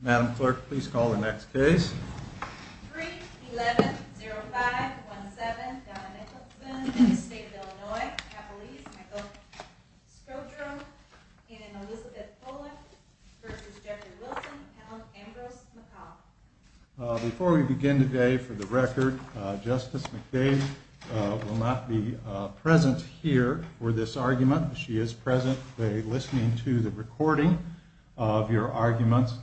Madam Clerk, please call the next case. Before we begin today for the record, Justice McBain will not be present here for this argument. She is presently listening to the recording of your arguments.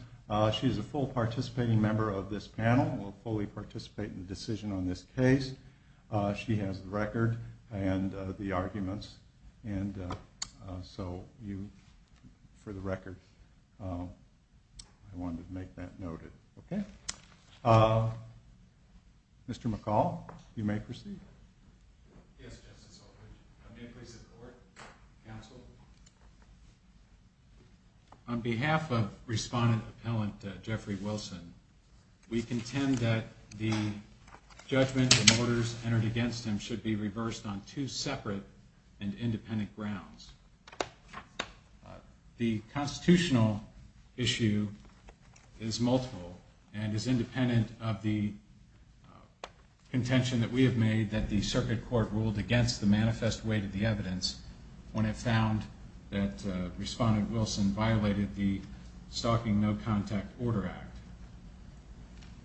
She is a full participating member of this panel and will fully participate in the decision on this case. She has the record and the arguments. So for the record, I wanted to make that noted. Mr. McCall, you may proceed. On behalf of Respondent Appellant Jeffrey Wilson, we contend that the judgment and orders entered against him should be reversed on two separate and independent grounds. The constitutional issue is multiple and is independent of the contention that we have made that the circuit court ruled against the manifest weight of the evidence when it found that Respondent Wilson violated the Stalking No Contact Order Act.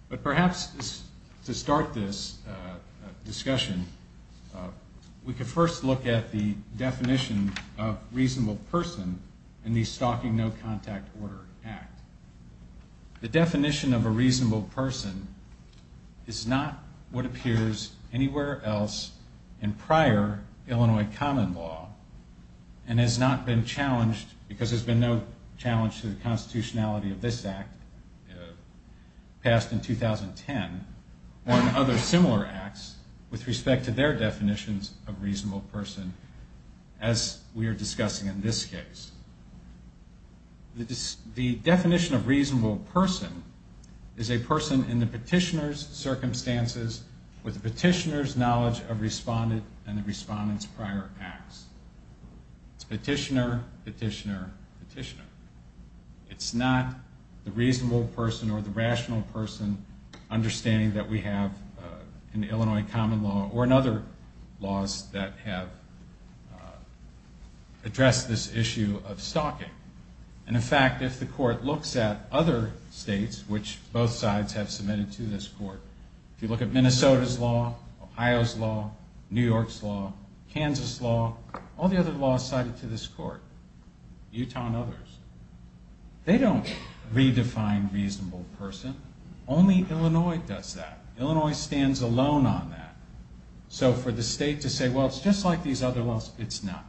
But perhaps to start this discussion, we could first look at the definition of reasonable person in the Stalking No Contact Order Act. The definition of a reasonable person is not what appears anywhere else in prior Illinois common law and has not been challenged because there's been no challenge to the constitutionality of this act passed in 2010 or in other similar acts with respect to their definitions of reasonable person as we are discussing in this case. The definition of reasonable person is a person in the petitioner's circumstances with the petitioner's knowledge of Respondent and the Respondent's prior acts. It's petitioner, petitioner, petitioner. It's not the reasonable person or the rational person understanding that we have in Illinois common law or in other laws that have addressed this issue of stalking. And in fact, if the court looks at other states, which both sides have submitted to this court, if you look at Minnesota's law, Ohio's law, New York's law, Kansas' law, all the other laws cited to this court, Utah and others, they don't redefine reasonable person. Only Illinois does that. Illinois stands alone on that. So for the state to say, well, it's just like these other laws, it's not.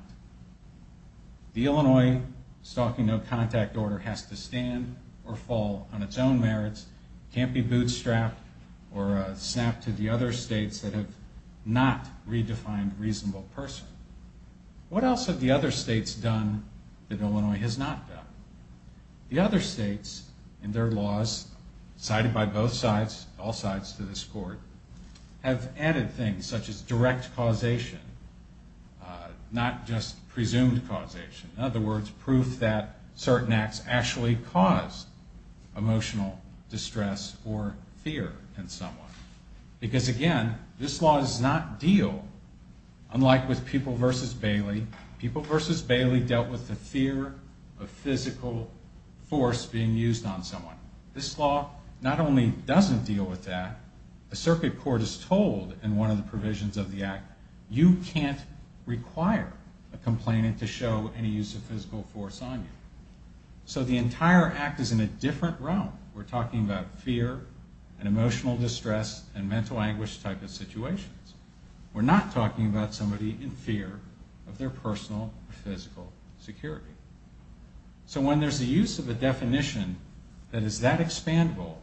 The Illinois Stalking No Contact Order has to stand or fall on its own merits, can't be bootstrapped or snapped to the other states that have not redefined reasonable person. What else have the other states done that Illinois has not done? The other states in their laws cited by both sides, all sides to this court, have added things such as direct causation, not just presumed causation. In other words, proof that certain acts actually cause emotional distress or fear in someone. Because again, this law does not deal, unlike with People v. Bailey, People v. Bailey dealt with the fear of physical force being used on someone. This law not only doesn't deal with that, the circuit court is told in one of the provisions of the act, you can't require a complainant to show any use of physical force on you. So the entire act is in a different realm. We're talking about fear and emotional distress and mental anguish type of situations. We're not talking about somebody in fear of their personal or physical security. So when there's a use of a definition that is that expandable,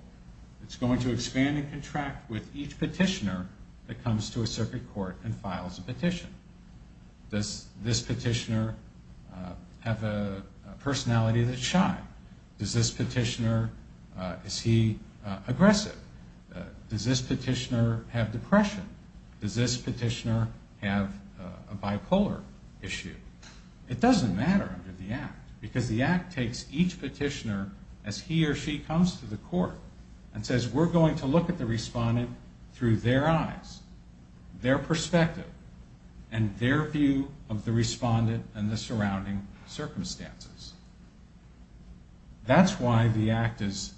it's going to expand and contract with each petitioner that comes to a circuit court and files a petition. Does this petitioner have a personality that's shy? Is this petitioner aggressive? Does this petitioner have depression? Does this petitioner have a bipolar issue? It doesn't matter under the act, because the act takes each petitioner as he or she comes to the court and says we're going to look at the respondent through their eyes, their perspective, and their view of the respondent and the surrounding circumstances. That's why the act is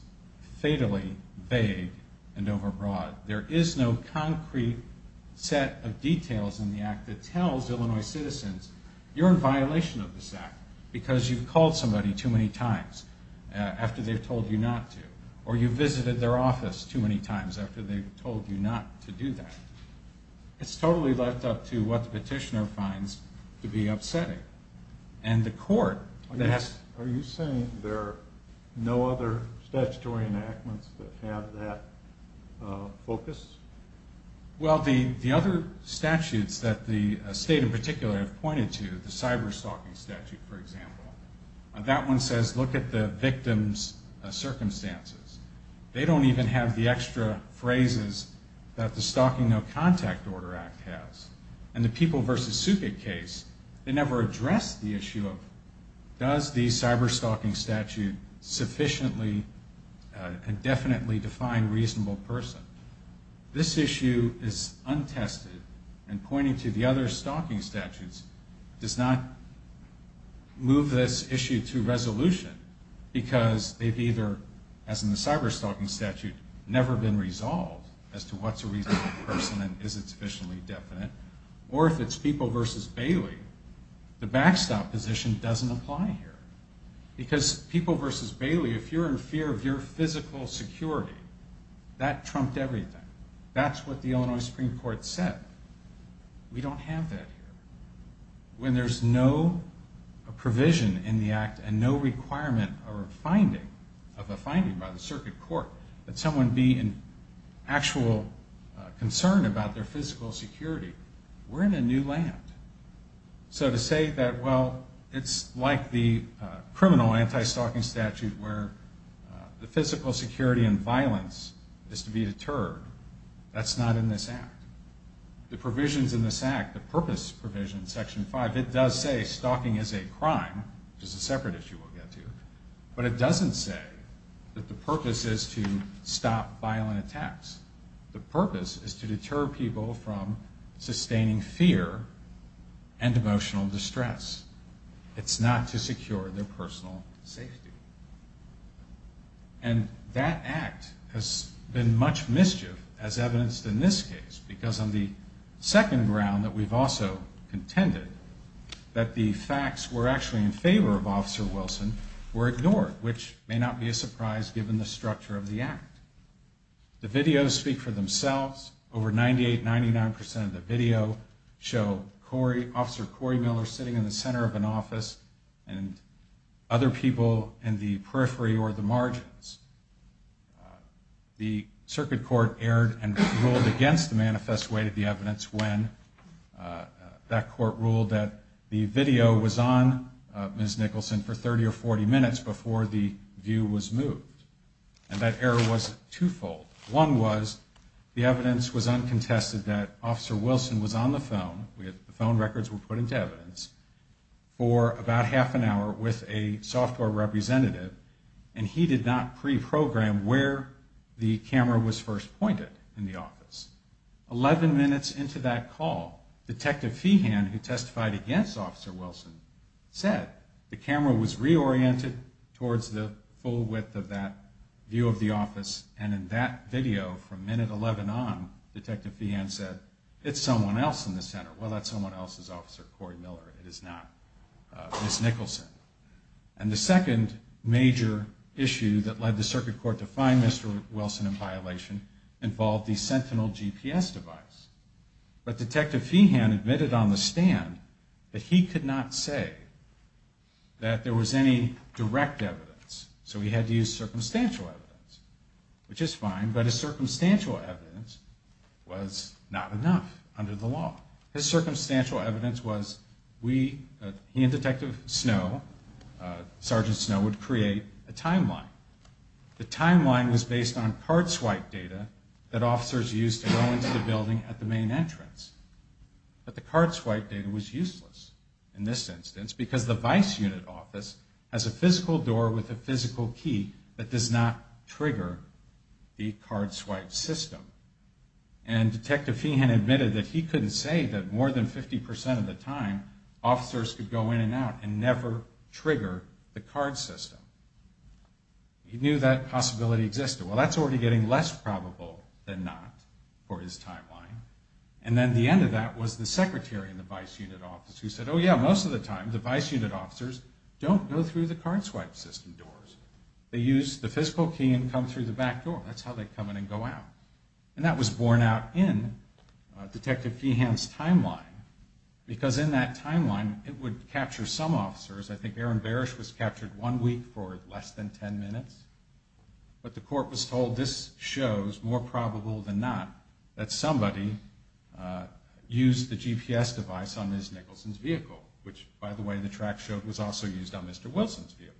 fatally vague and overbroad. There is no concrete set of details in the act that tells Illinois citizens, you're in violation of this act because you've called somebody too many times after they've told you not to, or you've visited their office too many times after they've told you not to do that. It's totally left up to what the petitioner finds to be upsetting. Are you saying there are no other statutory enactments that have that focus? Well, the other statutes that the state in particular has pointed to, the cyber-stalking statute, for example, that one says look at the victim's circumstances. They don't even have the extra phrases that the Stalking No Contact Order Act has. And the People v. Suket case, they never address the issue of does the cyber-stalking statute sufficiently and definitely define reasonable person. This issue is untested and pointing to the other stalking statutes does not move this issue to resolution because they've either, as in the cyber-stalking statute, never been resolved as to what's a reasonable person and is it sufficiently definite, or if it's People v. Bailey, the backstop position doesn't apply here. Because People v. Bailey, if you're in fear of your physical security, that trumped everything. That's what the Illinois Supreme Court said. We don't have that here. When there's no provision in the act and no requirement of a finding by the circuit court, that someone be in actual concern about their physical security, we're in a new land. So to say that, well, it's like the criminal anti-stalking statute where the physical security and violence is to be deterred, that's not in this act. The provisions in this act, the purpose provision, Section 5, it does say stalking is a crime, which is a separate issue we'll get to, but it doesn't say that the purpose is to stop violent attacks. The purpose is to deter people from sustaining fear and emotional distress. It's not to secure their personal safety. And that act has been much mischief as evidenced in this case, because on the second ground that we've also contended, that the facts were actually in favor of Officer Wilson were ignored, which may not be a surprise given the structure of the act. The videos speak for themselves. Over 98, 99% of the video show Officer Corey Miller sitting in the center of an office and other people in the periphery or the margins. The circuit court erred and ruled against the manifest way to the evidence when that court ruled that the video was on Ms. Nicholson for 30 or 40 minutes before the view was moved. And that error was twofold. One was the evidence was uncontested that Officer Wilson was on the phone. The phone records were put into evidence for about half an hour with a software representative, and he did not pre-program where the camera was first pointed in the office. 11 minutes into that call, Detective Feehan, who testified against Officer Wilson, said the camera was reoriented towards the full width of that view of the office, and in that video from minute 11 on, Detective Feehan said, it's someone else in the center. Well, that's someone else's Officer Corey Miller. It is not Ms. Nicholson. And the second major issue that led the circuit court to find Mr. Wilson in violation involved the Sentinel GPS device. But Detective Feehan admitted on the stand that he could not say that there was any direct evidence, so he had to use circumstantial evidence, which is fine, but his circumstantial evidence was not enough under the law. His circumstantial evidence was he and Detective Snow, Sergeant Snow, would create a timeline. The timeline was based on card swipe data that officers used to go into the building at the main entrance, but the card swipe data was useless in this instance because the vice unit office has a physical door with a physical key that does not trigger the card swipe system. And Detective Feehan admitted that he couldn't say that more than 50% of the time, officers could go in and out and never trigger the card system. He knew that possibility existed. Well, that's already getting less probable than not for his timeline. And then the end of that was the secretary in the vice unit office who said, oh yeah, most of the time the vice unit officers don't go through the card swipe system doors. They use the physical key and come through the back door. That's how they come in and go out. And that was borne out in Detective Feehan's timeline because in that timeline it would capture some officers. I think Aaron Barish was captured one week for less than ten minutes, but the court was told this shows more probable than not that somebody used the GPS device on Ms. Nicholson's vehicle, which by the way the track showed was also used on Mr. Wilson's vehicle.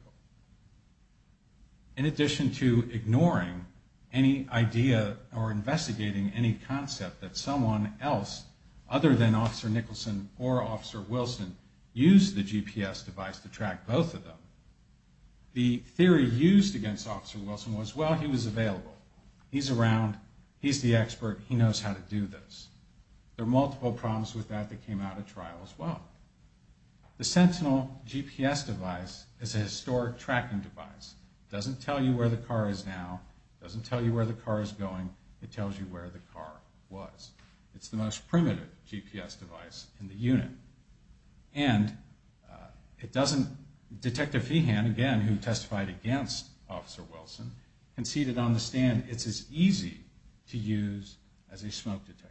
In addition to ignoring any idea or investigating any concept that someone else other than Officer Nicholson or Officer Wilson used the GPS device to track both of them, the theory used against Officer Wilson was, well, he was available. He's around. He's the expert. He knows how to do this. There are multiple problems with that that came out of trial as well. The Sentinel GPS device is a historic tracking device. It doesn't tell you where the car is now. It doesn't tell you where the car is going. It tells you where the car was. It's the most primitive GPS device in the unit. And Detective Feehan, again, who testified against Officer Wilson, conceded on the stand it's as easy to use as a smoke detector.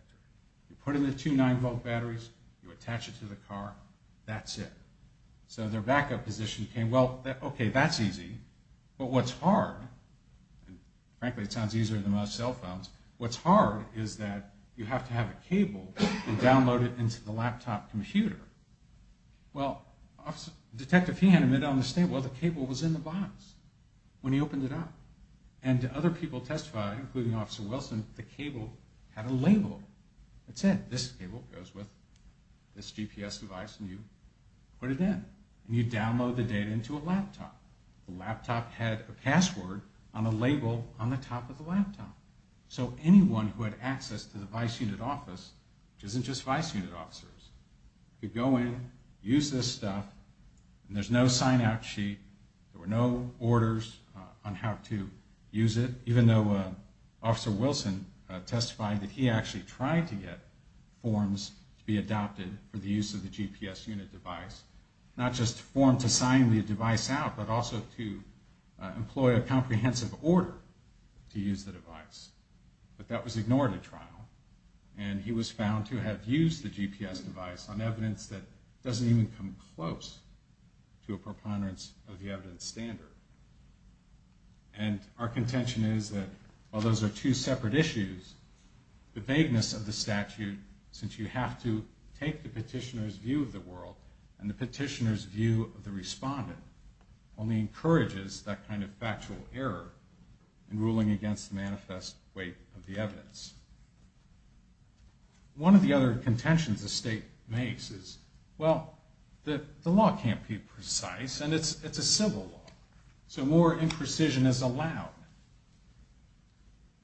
You put in the two 9-volt batteries. You attach it to the car. That's it. So their backup position came. Well, okay, that's easy. But what's hard, and frankly it sounds easier than most cell phones, what's hard is that you have to have a cable and download it into the laptop computer. Well, Detective Feehan admitted on the stand, well, the cable was in the box when he opened it up. And other people testified, including Officer Wilson, the cable had a label that said, this cable goes with this GPS device, and you put it in. And you download the data into a laptop. The laptop had a password on the label on the top of the laptop. So anyone who had access to the vice unit office, which isn't just vice unit officers, could go in, use this stuff, and there's no sign-out sheet. There were no orders on how to use it, even though Officer Wilson testified that he actually tried to get forms to be adopted for the use of the GPS unit device, not just a form to sign the device out, but also to employ a comprehensive order to use the device. But that was ignored at trial, and he was found to have used the GPS device on evidence that doesn't even come close to a preponderance of the evidence standard. And our contention is that while those are two separate issues, the vagueness of the statute, since you have to take the petitioner's view of the world and the petitioner's view of the respondent, only encourages that kind of factual error in ruling against the manifest weight of the evidence. One of the other contentions the state makes is, well, the law can't be precise, and it's a civil law, so more imprecision is allowed.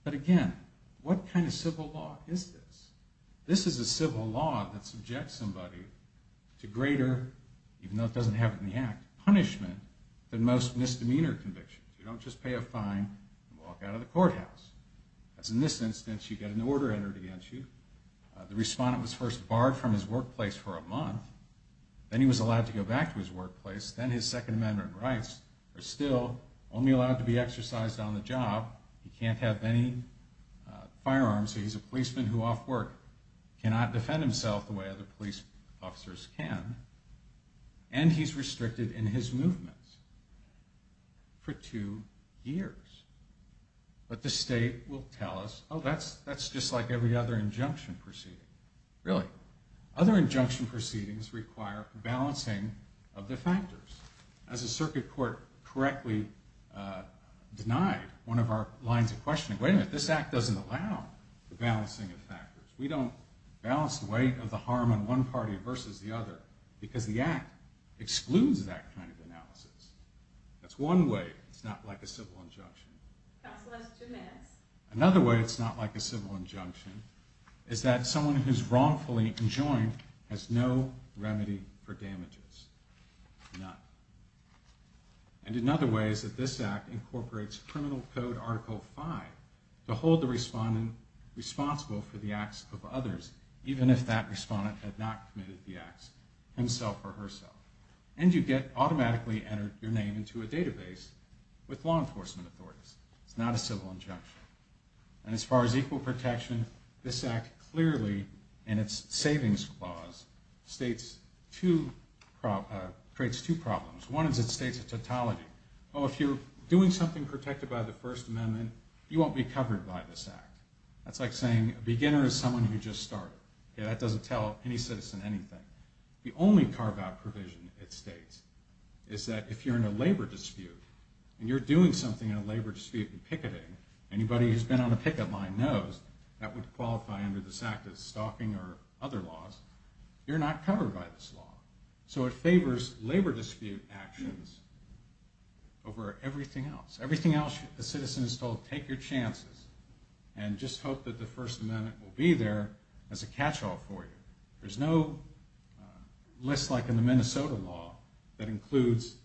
But again, what kind of civil law is this? This is a civil law that subjects somebody to greater, even though it doesn't have it in the Act, punishment than most misdemeanor convictions. You don't just pay a fine and walk out of the courthouse. As in this instance, you get an order entered against you. The respondent was first barred from his workplace for a month, then he was allowed to go back to his workplace, then his Second Amendment rights are still only allowed to be exercised on the job. He can't have any firearms, so he's a policeman who off work cannot defend himself the way other police officers can. And he's restricted in his movements for two years. But the state will tell us, oh, that's just like every other injunction proceeding. Really? Other injunction proceedings require balancing of the factors. As a circuit court correctly denied one of our lines of questioning, wait a minute, this Act doesn't allow the balancing of factors. We don't balance the weight of the harm on one party versus the other, because the Act excludes that kind of analysis. That's one way it's not like a civil injunction. Another way it's not like a civil injunction is that someone who's wrongfully enjoined has no remedy for damages. None. And another way is that this Act incorporates Criminal Code Article 5 to hold the respondent responsible for the acts of others, even if that respondent had not committed the acts himself or herself. And you get automatically entered your name into a database with law enforcement authorities. It's not a civil injunction. And as far as equal protection, this Act clearly, in its Savings Clause, creates two problems. One is it states a tautology. Oh, if you're doing something protected by the First Amendment, you won't be covered by this Act. That's like saying a beginner is someone who just started. That doesn't tell any citizen anything. The only carve-out provision it states is that if you're in a labor dispute and you're doing something in a labor dispute and picketing, anybody who's been on a picket line knows that would qualify under this Act as stalking or other laws, you're not covered by this law. So it favors labor dispute actions over everything else. Everything else a citizen is told, take your chances and just hope that the First Amendment will be there as a catch-all for you. There's no list like in the Minnesota law that includes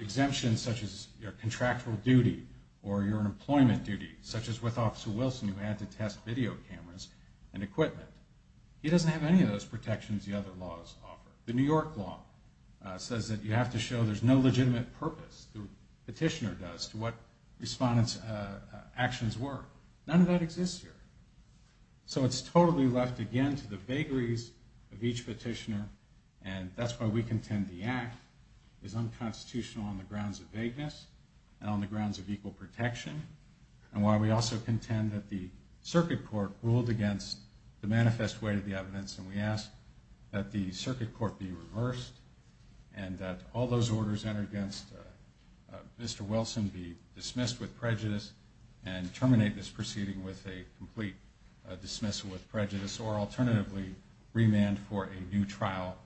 exemptions such as your contractual duty or your employment duty, such as with Officer Wilson who had to test video cameras and equipment. He doesn't have any of those protections the other laws offer. The New York law says that you have to show there's no legitimate purpose, the petitioner does, to what respondents' actions were. None of that exists here. So it's totally left again to the vagaries of each petitioner and that's why we contend the Act is unconstitutional on the grounds of vagueness and on the grounds of equal protection and why we also contend that the circuit court ruled against the manifest way of the evidence and we ask that the circuit court be reversed and that all those orders entered against Mr. Wilson be dismissed with prejudice and terminate this proceeding with a complete dismissal with prejudice or alternatively remand for a new trial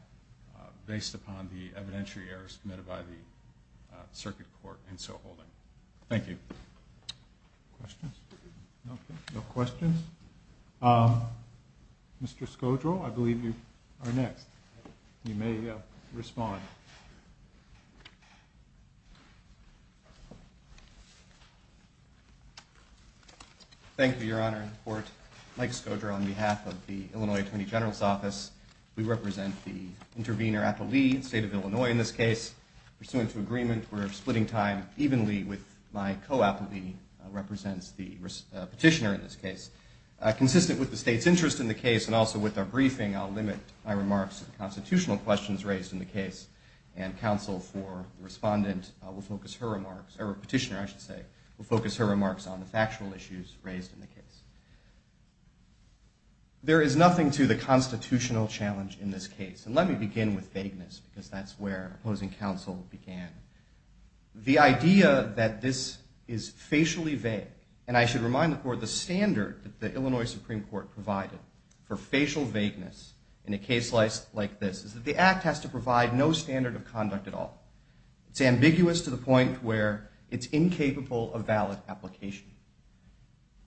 based upon the evidentiary errors committed by the circuit court in so holding. Thank you. Questions? No questions? Mr. Scodro, I believe you are next. You may respond. Thank you, Your Honor. Mike Scodro on behalf of the Illinois Attorney General's Office. We represent the intervener appellee, the state of Illinois in this case. Pursuant to agreement, we're splitting time evenly with my co-appellee represents the petitioner in this case. Consistent with the state's interest in the case and also with our briefing, I'll limit my remarks to the constitutional questions raised in the case and counsel for the respondent will focus her remarks, or petitioner I should say, will focus her remarks on the factual issues raised in the case. There is nothing to the constitutional challenge in this case. And let me begin with vagueness because that's where opposing counsel began. The idea that this is facially vague, and I should remind the court the standard that the Illinois Supreme Court provided for facial vagueness in a case like this is that the act has to provide no standard of conduct at all. It's ambiguous to the point where it's incapable of valid application.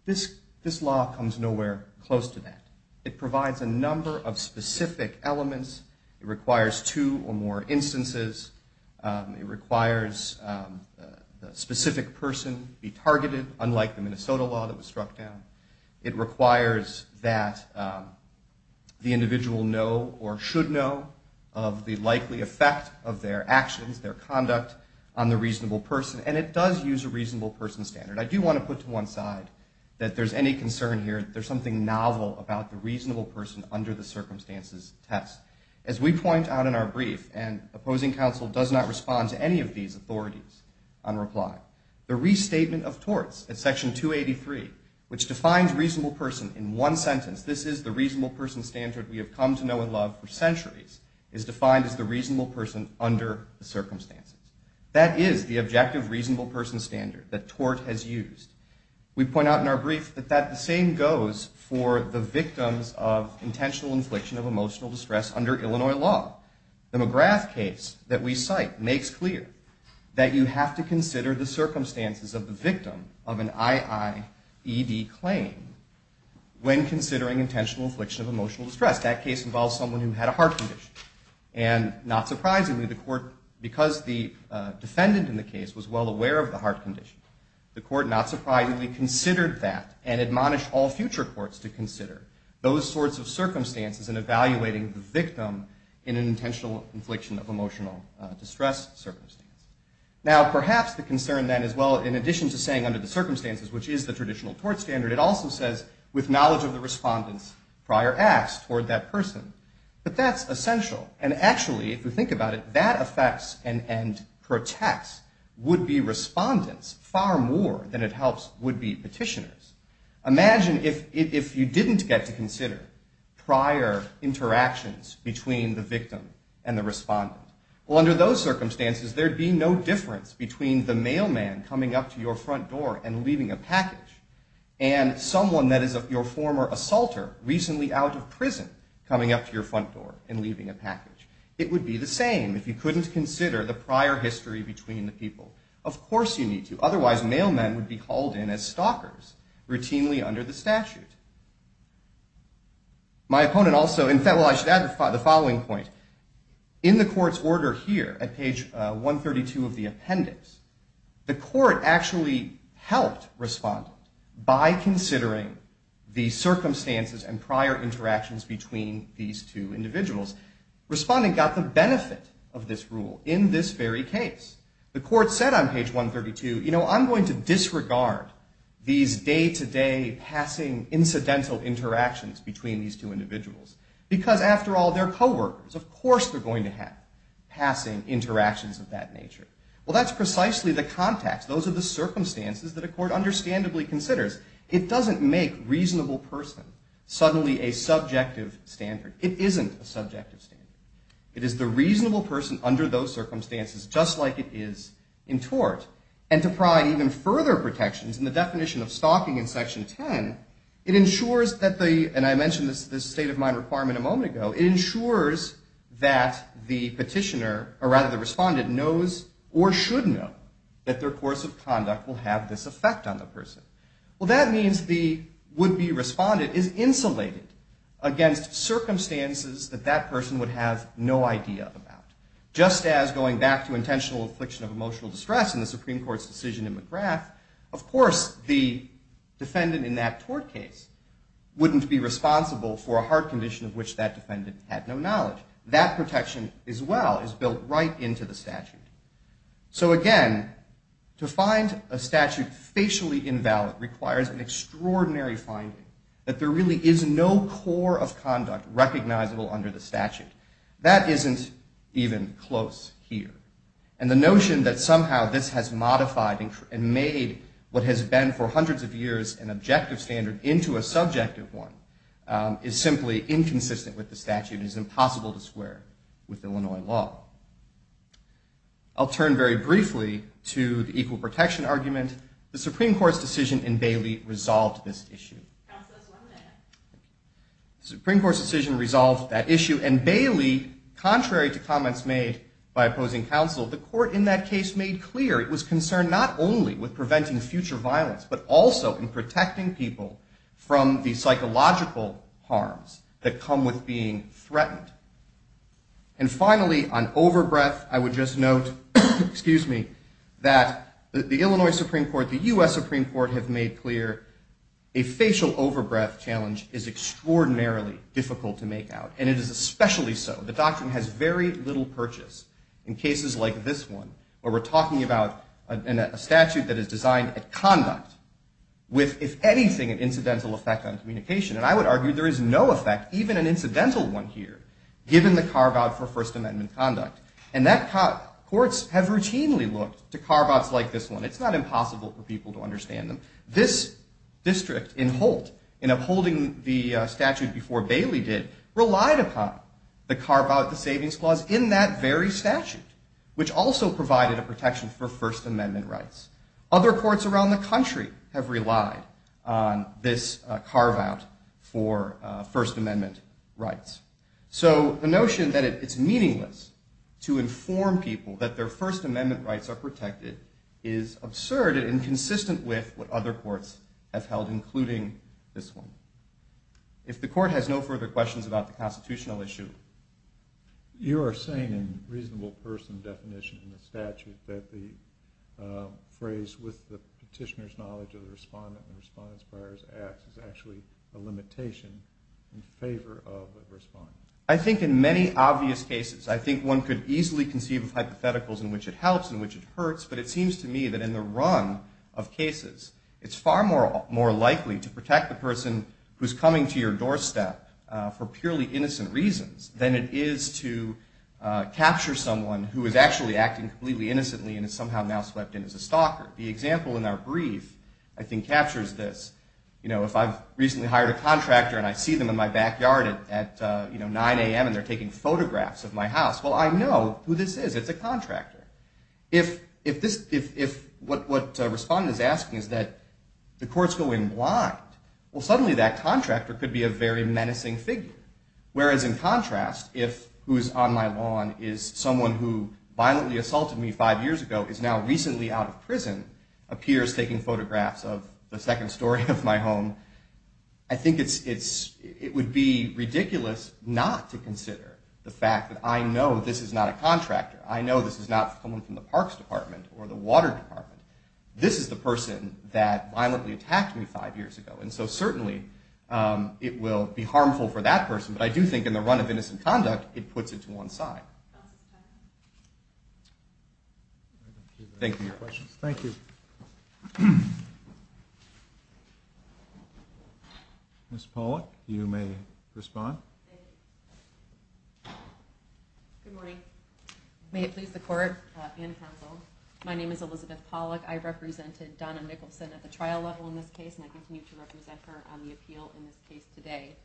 This law comes nowhere close to that. It provides a number of specific elements. It requires two or more instances. It requires the specific person be targeted, unlike the Minnesota law that was struck down. It requires that the individual know or should know of the likely effect of their actions, their conduct on the reasonable person. And it does use a reasonable person standard. I do want to put to one side that there's any concern here that there's something novel about the reasonable person under the circumstances test. As we point out in our brief, and opposing counsel does not respond to any of these authorities on reply, the restatement of torts at section 283, which defines reasonable person in one sentence, this is the reasonable person standard we have come to know and love for centuries, is defined as the reasonable person under the circumstances. That is the objective reasonable person standard that tort has used. We point out in our brief that the same goes for the victims of intentional infliction of emotional distress under Illinois law. The McGrath case that we cite makes clear that you have to consider the circumstances of the victim of an IIED claim when considering intentional infliction of emotional distress. That case involves someone who had a heart condition, and not surprisingly, the court, because the defendant in the case was well aware of the heart condition, the court not surprisingly considered that and admonished all future courts to consider those sorts of circumstances in evaluating the victim in an intentional infliction of emotional distress circumstance. Now, perhaps the concern then is, well, in addition to saying under the circumstances, which is the traditional tort standard, it also says with knowledge of the respondent's prior acts toward that person. But that's essential, and actually, if we think about it, that affects and protects would-be respondents far more than it helps would-be petitioners. Imagine if you didn't get to consider prior interactions between the victim and the respondent. Well, under those circumstances, there'd be no difference between the mailman coming up to your front door and leaving a package and someone that is your former assaulter recently out of prison coming up to your front door and leaving a package. It would be the same if you couldn't consider the prior history between the people. Of course you need to, otherwise mailmen would be hauled in as stalkers routinely under the statute. My opponent also, in fact, well, I should add the following point. In the court's order here at page 132 of the appendix, the court actually helped respondent by considering the circumstances and prior interactions between these two individuals. Respondent got the benefit of this rule in this very case. The court said on page 132, you know, I'm going to disregard these day-to-day passing incidental interactions between these two individuals because, after all, they're co-workers. Of course they're going to have passing interactions of that nature. Well, that's precisely the context. It's the context of the circumstances that a court understandably considers. It doesn't make reasonable person suddenly a subjective standard. It isn't a subjective standard. It is the reasonable person under those circumstances, just like it is in tort. And to provide even further protections in the definition of stalking in section 10, it ensures that the, and I mentioned this state of mind requirement a moment ago, it ensures that the petitioner, or rather the respondent, knows or should know that their course of conduct will have this effect on the person. Well, that means the would-be respondent is insulated against circumstances that that person would have no idea about, just as going back to intentional affliction of emotional distress in the Supreme Court's decision in McGrath, of course the defendant in that tort case wouldn't be responsible for a heart condition of which that defendant had no knowledge. That protection as well is built right into the statute. So again, to find a statute facially invalid requires an extraordinary finding, that there really is no core of conduct recognizable under the statute. That isn't even close here. And the notion that somehow this has modified and made what has been for hundreds of years an objective standard into a subjective one is simply inconsistent with the statute and is impossible to square with Illinois law. I'll turn very briefly to the equal protection argument. The Supreme Court's decision in Bailey resolved this issue. The Supreme Court's decision resolved that issue, and Bailey, contrary to comments made by opposing counsel, the court in that case made clear it was concerned not only with preventing future violence, but also in protecting people from the psychological harms that come with being threatened. And finally, on over-breath, I would just note, excuse me, that the Illinois Supreme Court, the U.S. Supreme Court have made clear a facial over-breath challenge is extraordinarily difficult to make out, and it is especially so. The doctrine has very little purchase in cases like this one where we're talking about a statute that is designed at conduct with, if anything, an incidental effect on communication. And I would argue there is no effect, even an incidental one here, given the carve-out for First Amendment conduct. And courts have routinely looked to carve-outs like this one. It's not impossible for people to understand them. This district in Holt, in upholding the statute before Bailey did, relied upon the carve-out, the savings clause, in that very statute, which also provided a protection for First Amendment rights. Other courts around the country have relied on this carve-out for First Amendment rights. So the notion that it's meaningless to inform people that their First Amendment rights are protected is absurd and inconsistent with what other courts have held, including this one. If the court has no further questions about the constitutional issue. You are saying in reasonable person definition in the statute that the phrase, with the petitioner's knowledge of the respondent and the respondent's prior acts, is actually a limitation in favor of the respondent? I think in many obvious cases. I think one could easily conceive of hypotheticals in which it helps and which it hurts. But it seems to me that in the run of cases, it's far more likely to protect the person who's coming to your doorstep for purely innocent reasons than it is to capture someone who is actually acting completely innocently and is somehow now swept in as a stalker. The example in our brief, I think, captures this. If I've recently hired a contractor and I see them in my backyard at 9 a.m. and they're taking photographs of my house, well, I know who this is. It's a contractor. If what the respondent is asking is that the courts go in blind, well, suddenly that contractor could be a very menacing figure. Whereas in contrast, if who's on my lawn is someone who violently assaulted me five years ago is now recently out of prison, appears taking photographs of the second story of my home, I think it would be ridiculous not to consider the fact that I know this is not a contractor. I know this is not someone from the parks department or the water department. This is the person that violently attacked me five years ago, and so certainly it will be harmful for that person. But I do think in the run of innocent conduct, it puts it to one side. Thank you. Ms. Pollack, you may respond. Good morning. May it please the court and counsel, my name is Elizabeth Pollack. I represented Donna Nicholson at the trial level in this case, and I continue to represent her on the appeal in this case today.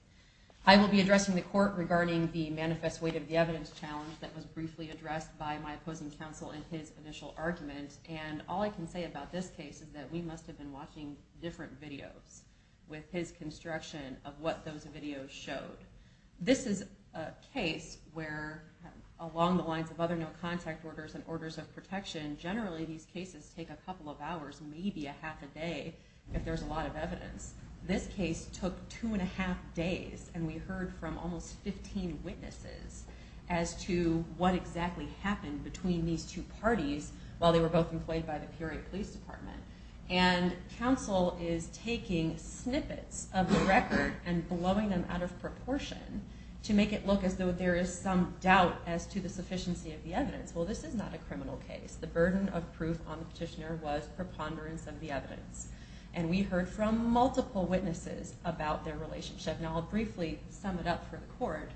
I will be addressing the court regarding the manifest weight of the evidence challenge that was briefly addressed by my opposing counsel in his initial argument, and all I can say about this case is that we must have been watching different videos with his construction of what those videos showed. This is a case where along the lines of other no contact orders and orders of protection, generally these cases take a couple of hours, maybe a half a day if there's a lot of evidence. This case took two and a half days, and we heard from almost 15 witnesses as to what exactly happened between these two parties while they were both employed by the Peoria Police Department. And counsel is taking snippets of the record and blowing them out of proportion to make it look as though there is some doubt as to the sufficiency of the evidence. Well, this is not a criminal case. The burden of proof on the petitioner was preponderance of the evidence. And we heard from multiple witnesses about their relationship, and I'll briefly sum it up for the court.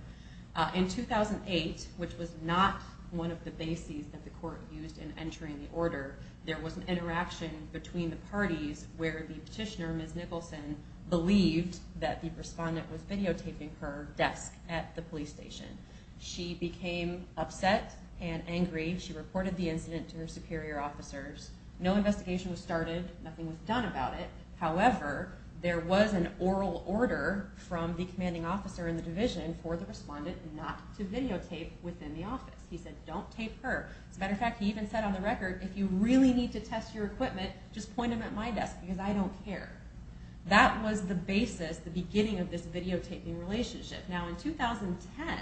In 2008, which was not one of the bases that the court used in entering the order, there was an interaction between the parties where the petitioner, Ms. Nicholson, believed that the respondent was videotaping her desk at the police station. She became upset and angry. She reported the incident to her superior officers. No investigation was started. Nothing was done about it. However, there was an oral order from the commanding officer in the division for the respondent not to videotape within the office. He said, don't tape her. As a matter of fact, he even said on the record, if you really need to test your equipment, just point them at my desk because I don't care. That was the basis, the beginning of this videotaping relationship. Now, in 2010,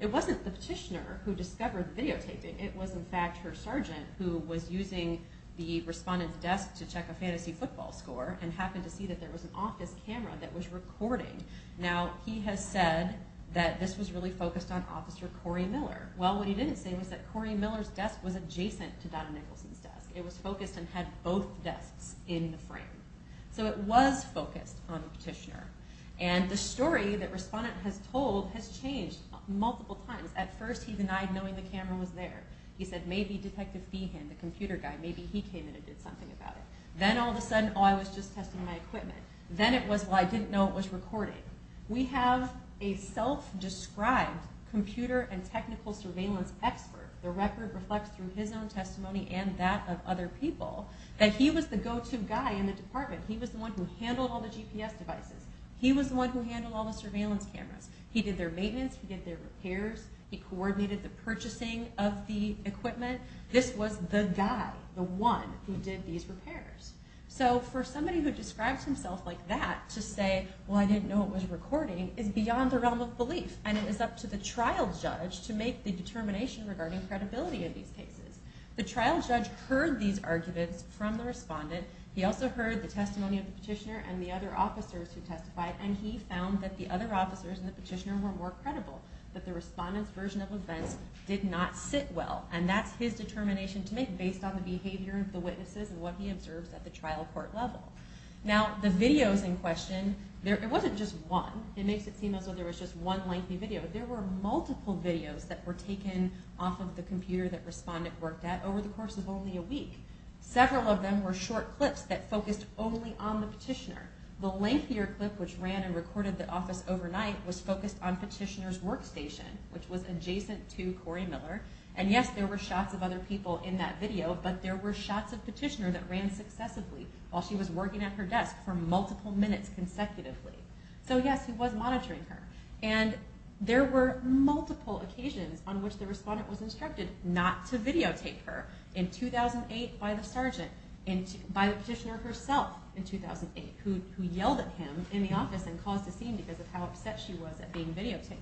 it wasn't the petitioner who discovered the videotaping. It was, in fact, her sergeant who was using the respondent's desk to check a fantasy football score and happened to see that there was an office camera that was recording. Now, he has said that this was really focused on Officer Cory Miller. Well, what he didn't say was that Cory Miller's desk was adjacent to Donna Nicholson's desk. It was focused and had both desks in the frame. So it was focused on the petitioner. And the story that respondent has told has changed multiple times. At first, he denied knowing the camera was there. He said, maybe Detective Feehan, the computer guy, maybe he came in and did something about it. Then all of a sudden, oh, I was just testing my equipment. Then it was, well, I didn't know it was recording. We have a self-described computer and technical surveillance expert. The record reflects through his own testimony and that of other people that he was the go-to guy in the department. He was the one who handled all the GPS devices. He was the one who handled all the surveillance cameras. He did their maintenance. He did their repairs. He coordinated the purchasing of the equipment. This was the guy, the one, who did these repairs. So for somebody who describes himself like that to say, well, I didn't know it was recording, is beyond the realm of belief. And it is up to the trial judge to make the determination regarding credibility of these cases. The trial judge heard these arguments from the respondent. He also heard the testimony of the petitioner and the other officers who testified. And he found that the other officers in the petitioner were more credible, that the respondent's version of events did not sit well. And that's his determination to make based on the behavior of the witnesses and what he observes at the trial court level. Now, the videos in question, it wasn't just one. It makes it seem as though there was just one lengthy video. There were multiple videos that were taken off of the computer that respondent worked at over the course of only a week. Several of them were short clips that focused only on the petitioner. The lengthier clip, which ran and recorded the office overnight, was focused on petitioner's workstation, which was adjacent to Corey Miller. And yes, there were shots of other people in that video, but there were shots of petitioner that ran successively while she was working at her desk for multiple minutes consecutively. So yes, he was monitoring her. And there were multiple occasions on which the respondent was instructed not to videotape her. In 2008, by the petitioner herself in 2008, who yelled at him in the office and caused a scene because of how upset she was at being videotaped.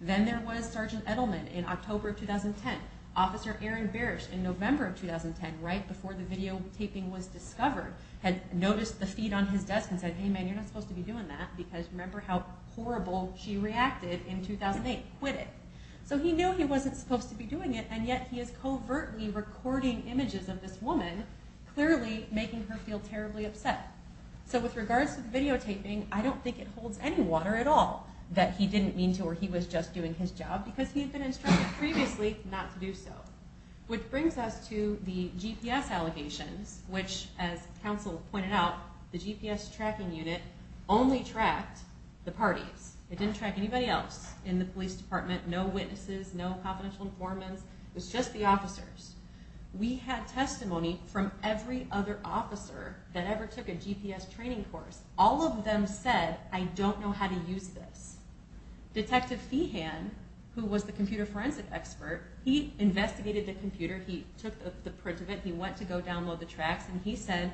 Then there was Sergeant Edelman in October of 2010. Officer Aaron Barish in November of 2010, right before the videotaping was discovered, had noticed the feed on his desk and said, hey man, you're not supposed to be doing that because remember how horrible she reacted in 2008. Quit it. So he knew he wasn't supposed to be doing it, and yet he is covertly recording images of this woman, clearly making her feel terribly upset. So with regards to the videotaping, I don't think it holds any water at all that he didn't mean to or he was just doing his job because he had been instructed previously not to do so. Which brings us to the GPS allegations, which as counsel pointed out, the GPS tracking unit only tracked the parties. It didn't track anybody else in the police department. No witnesses, no confidential informants. It was just the officers. We had testimony from every other officer that ever took a GPS training course. All of them said, I don't know how to use this. Detective Fehan, who was the computer forensic expert, he investigated the computer, he took the print of it, he went to go download the tracks, and he said,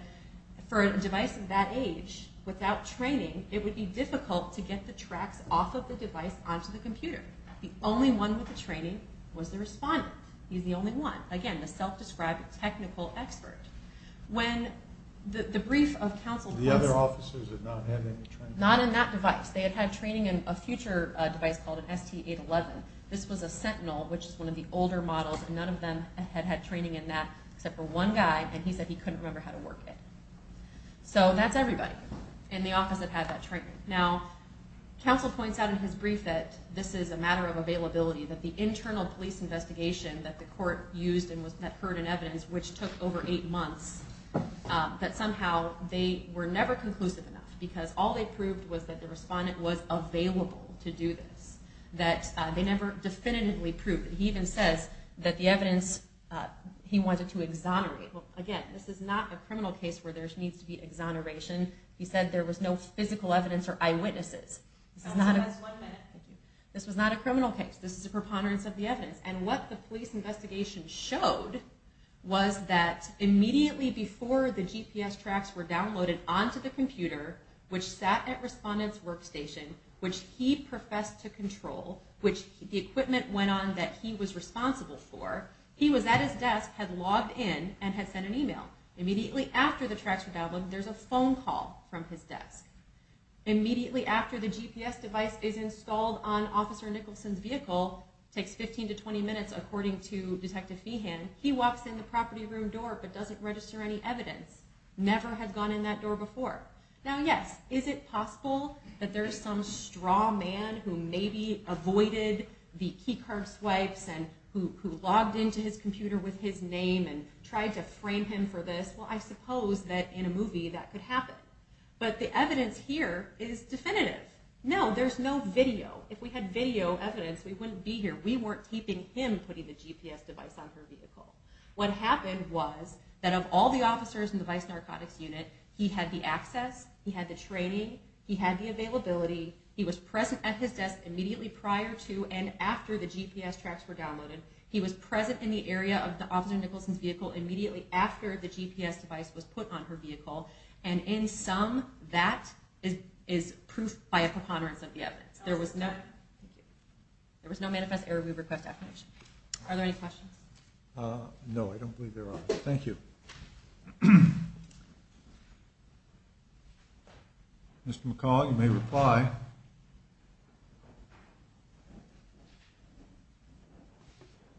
for a device of that age, without training, it would be difficult to get the tracks off of the device onto the computer. The only one with the training was the respondent. He's the only one. Again, the self-described technical expert. When the brief of counsel... The other officers had not had any training? Not in that device. They had had training in a future device called an ST811. This was a Sentinel, which is one of the older models, and none of them had had training in that, except for one guy, and he said he couldn't remember how to work it. So that's everybody in the office that had that training. Now, counsel points out in his brief that this is a matter of availability, that the internal police investigation that the court used and heard in evidence, which took over eight months, that somehow they were never conclusive enough, because all they proved was that the respondent was available to do this. They never definitively proved it. He even says that the evidence, he wanted to exonerate. Again, this is not a criminal case where there needs to be exoneration. He said there was no physical evidence or eyewitnesses. Counsel has one minute. This was not a criminal case. This is a preponderance of the evidence. And what the police investigation showed was that immediately before the GPS tracks were downloaded onto the computer, which sat at respondent's workstation, which he professed to control, which the equipment went on that he was responsible for, he was at his desk, had logged in, and had sent an email. Immediately after the tracks were downloaded, there's a phone call from his desk. Immediately after the GPS device is installed on Officer Nicholson's vehicle, takes 15 to 20 minutes according to Detective Feehan, he walks in the property room door but doesn't register any evidence. Never had gone in that door before. Now, yes, is it possible that there's some straw man who maybe avoided the key card swipes and who logged into his computer with his name and tried to frame him for this? Well, I suppose that in a movie that could happen. But the evidence here is definitive. No, there's no video. If we had video evidence, we wouldn't be here. We weren't keeping him putting the GPS device on her vehicle. What happened was that of all the officers in the Vice Narcotics Unit, he had the access, he had the training, he had the availability, he was present at his desk immediately prior to and after the GPS tracks were downloaded. He was present in the area of the Officer Nicholson's vehicle immediately after the GPS device was put on her vehicle. And in sum, that is proof by a preponderance of the evidence. There was no manifest error. We request affirmation. Are there any questions? No, I don't believe there are. Thank you. Mr. McCaul, you may reply.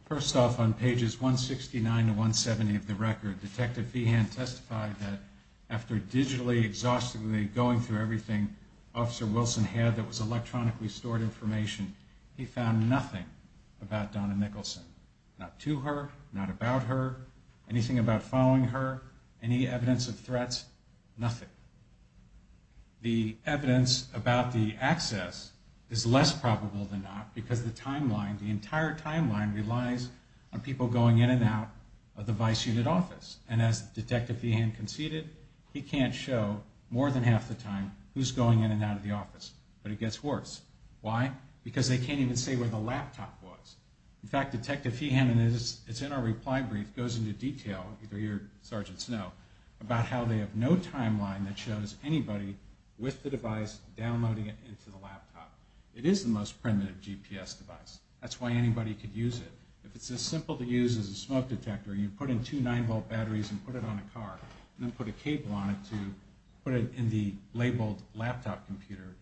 First off, on pages 169 to 170 of the record, Detective Veehan testified that after digitally, exhaustively going through everything Officer Wilson had that was electronically stored information, he found nothing about Donna Nicholson. Not to her, not about her, anything about following her, any evidence of threats, nothing. The evidence about the access is less probable than not because the entire timeline relies on people going in and out of the Vice Unit office. And as Detective Veehan conceded, he can't show more than half the time who's going in and out of the office. But it gets worse. Why? Because they can't even say where the laptop was. In fact, Detective Veehan, and it's in our reply brief, it goes into detail, either you or Sergeant Snow, about how they have no timeline that shows anybody with the device downloading it into the laptop. It is the most primitive GPS device. That's why anybody could use it. If it's as simple to use as a smoke detector, you put in two 9-volt batteries and put it on a car, and then put a cable on it to put it in the labeled laptop computer,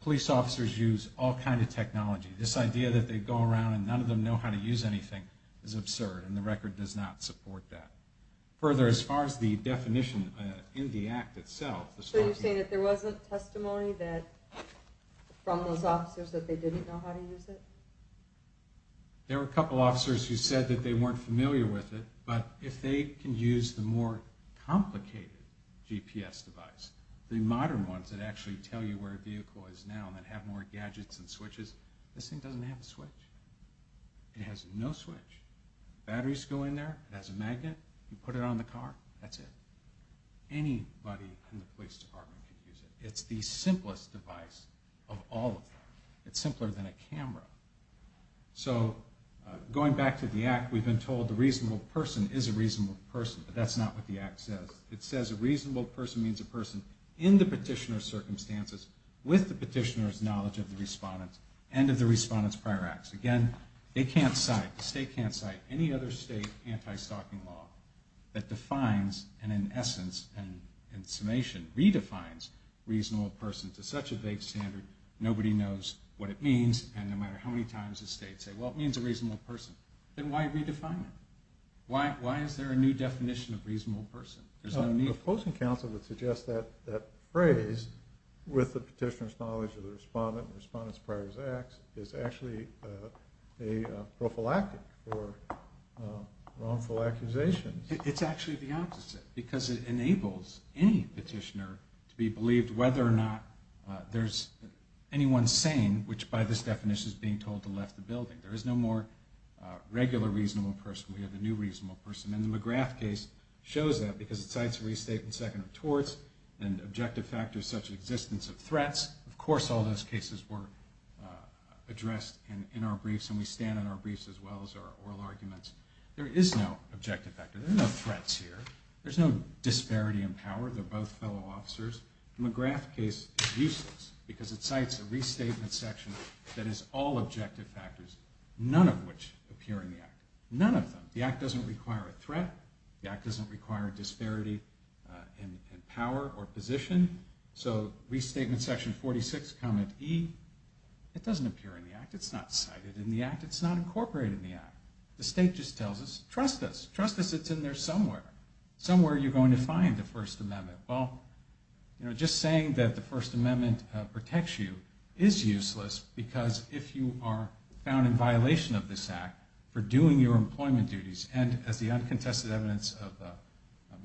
Police officers use all kinds of technology. This idea that they go around and none of them know how to use anything is absurd, and the record does not support that. Further, as far as the definition in the act itself... So you're saying that there wasn't testimony from those officers that they didn't know how to use it? There were a couple officers who said that they weren't familiar with it, but if they can use the more complicated GPS device, the modern ones that actually tell you where a vehicle is now and that have more gadgets and switches, this thing doesn't have a switch. It has no switch. Batteries go in there, it has a magnet, you put it on the car, that's it. Anybody in the police department can use it. It's the simplest device of all of them. It's simpler than a camera. So going back to the act, we've been told the reasonable person is a reasonable person, but that's not what the act says. It says a reasonable person means a person in the petitioner's circumstances, with the petitioner's knowledge of the respondent and of the respondent's prior acts. Again, they can't cite, the state can't cite any other state anti-stalking law that defines and, in essence and summation, redefines reasonable person to such a vague standard, nobody knows what it means, and no matter how many times the states say, well, it means a reasonable person, then why redefine it? Why is there a new definition of reasonable person? The opposing counsel would suggest that phrase, with the petitioner's knowledge of the respondent and the respondent's prior acts, is actually a prophylactic for wrongful accusations. It's actually the opposite, because it enables any petitioner to be believed, whether or not there's anyone sane, which by this definition is being told to left the building. There is no more regular reasonable person. We have a new reasonable person, and the McGrath case shows that, because it cites a restatement section of torts, and objective factors such as the existence of threats. Of course all those cases were addressed in our briefs, and we stand on our briefs as well as our oral arguments. There is no objective factor, there are no threats here, there's no disparity in power, they're both fellow officers. The McGrath case is useless, because it cites a restatement section that has all objective factors, none of which appear in the act, none of them. The act doesn't require a threat, the act doesn't require disparity in power or position, so restatement section 46, comment E, it doesn't appear in the act, it's not cited in the act, it's not incorporated in the act. The state just tells us, trust us, trust us it's in there somewhere. Somewhere you're going to find the First Amendment. Well, just saying that the First Amendment protects you is useless, because if you are found in violation of this act, for doing your employment duties, and as the uncontested evidence of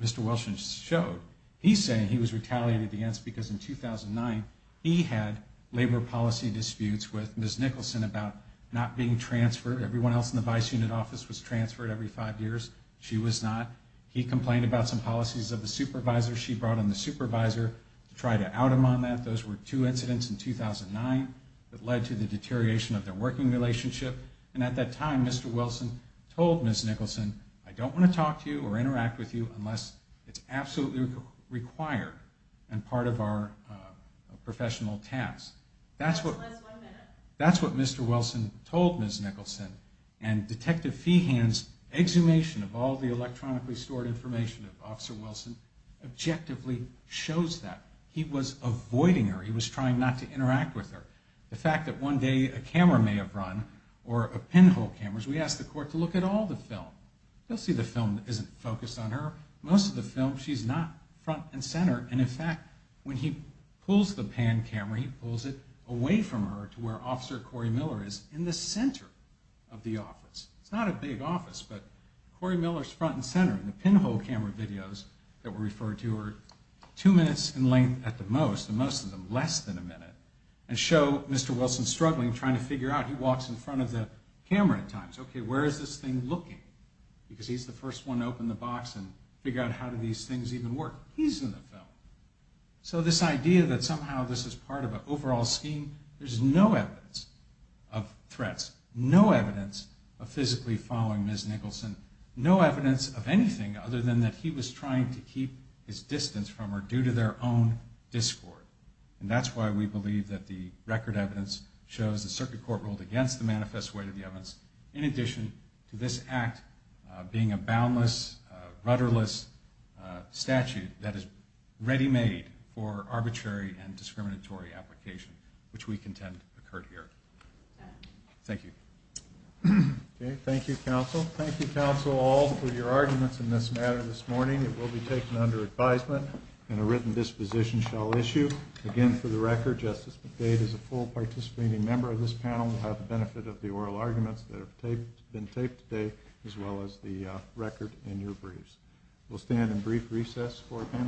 Mr. Wilson showed, he's saying he was retaliated against because in 2009, he had labor policy disputes with Ms. Nicholson about not being transferred, everyone else in the vice unit office was transferred every five years, she was not. He complained about some policies of the supervisor, she brought in the supervisor to try to out him on that, those were two incidents in 2009 that led to the deterioration of their working relationship, and at that time, Mr. Wilson told Ms. Nicholson, I don't want to talk to you or interact with you unless it's absolutely required and part of our professional task. That's what Mr. Wilson told Ms. Nicholson, and Detective Feehan's exhumation of all the electronically stored information of Officer Wilson objectively shows that. He was avoiding her, he was trying not to interact with her. The fact that one day a camera may have run, or a pinhole camera, we asked the court to look at all the film. You'll see the film isn't focused on her. Most of the film, she's not front and center, and in fact, when he pulls the pan camera, he pulls it away from her to where Officer Corey Miller is, in the center of the office. It's not a big office, but Corey Miller's front and center, and the pinhole camera videos that were referred to are two minutes in length at the most, and most of them less than a minute, and show Mr. Wilson struggling, trying to figure out, he walks in front of the camera at times, okay, where is this thing looking? Because he's the first one to open the box and figure out how do these things even work. He's in the film. So this idea that somehow this is part of an overall scheme, there's no evidence of threats, no evidence of physically following Ms. Nicholson, no evidence of anything other than that he was trying to keep his distance from her due to their own discord. And that's why we believe that the record evidence shows the circuit court ruled against the manifest way to the evidence, in addition to this act being a boundless, rudderless statute that is ready-made for arbitrary and discriminatory application, which we contend occurred here. Thank you. Okay, thank you, counsel. Thank you, counsel, all, for your arguments in this matter this morning. It will be taken under advisement, and a written disposition shall issue. Again, for the record, Justice McDade is a full participating member of this panel and will have the benefit of the oral arguments that have been taped today as well as the record in your briefs. We'll stand in brief recess for a panel discussion.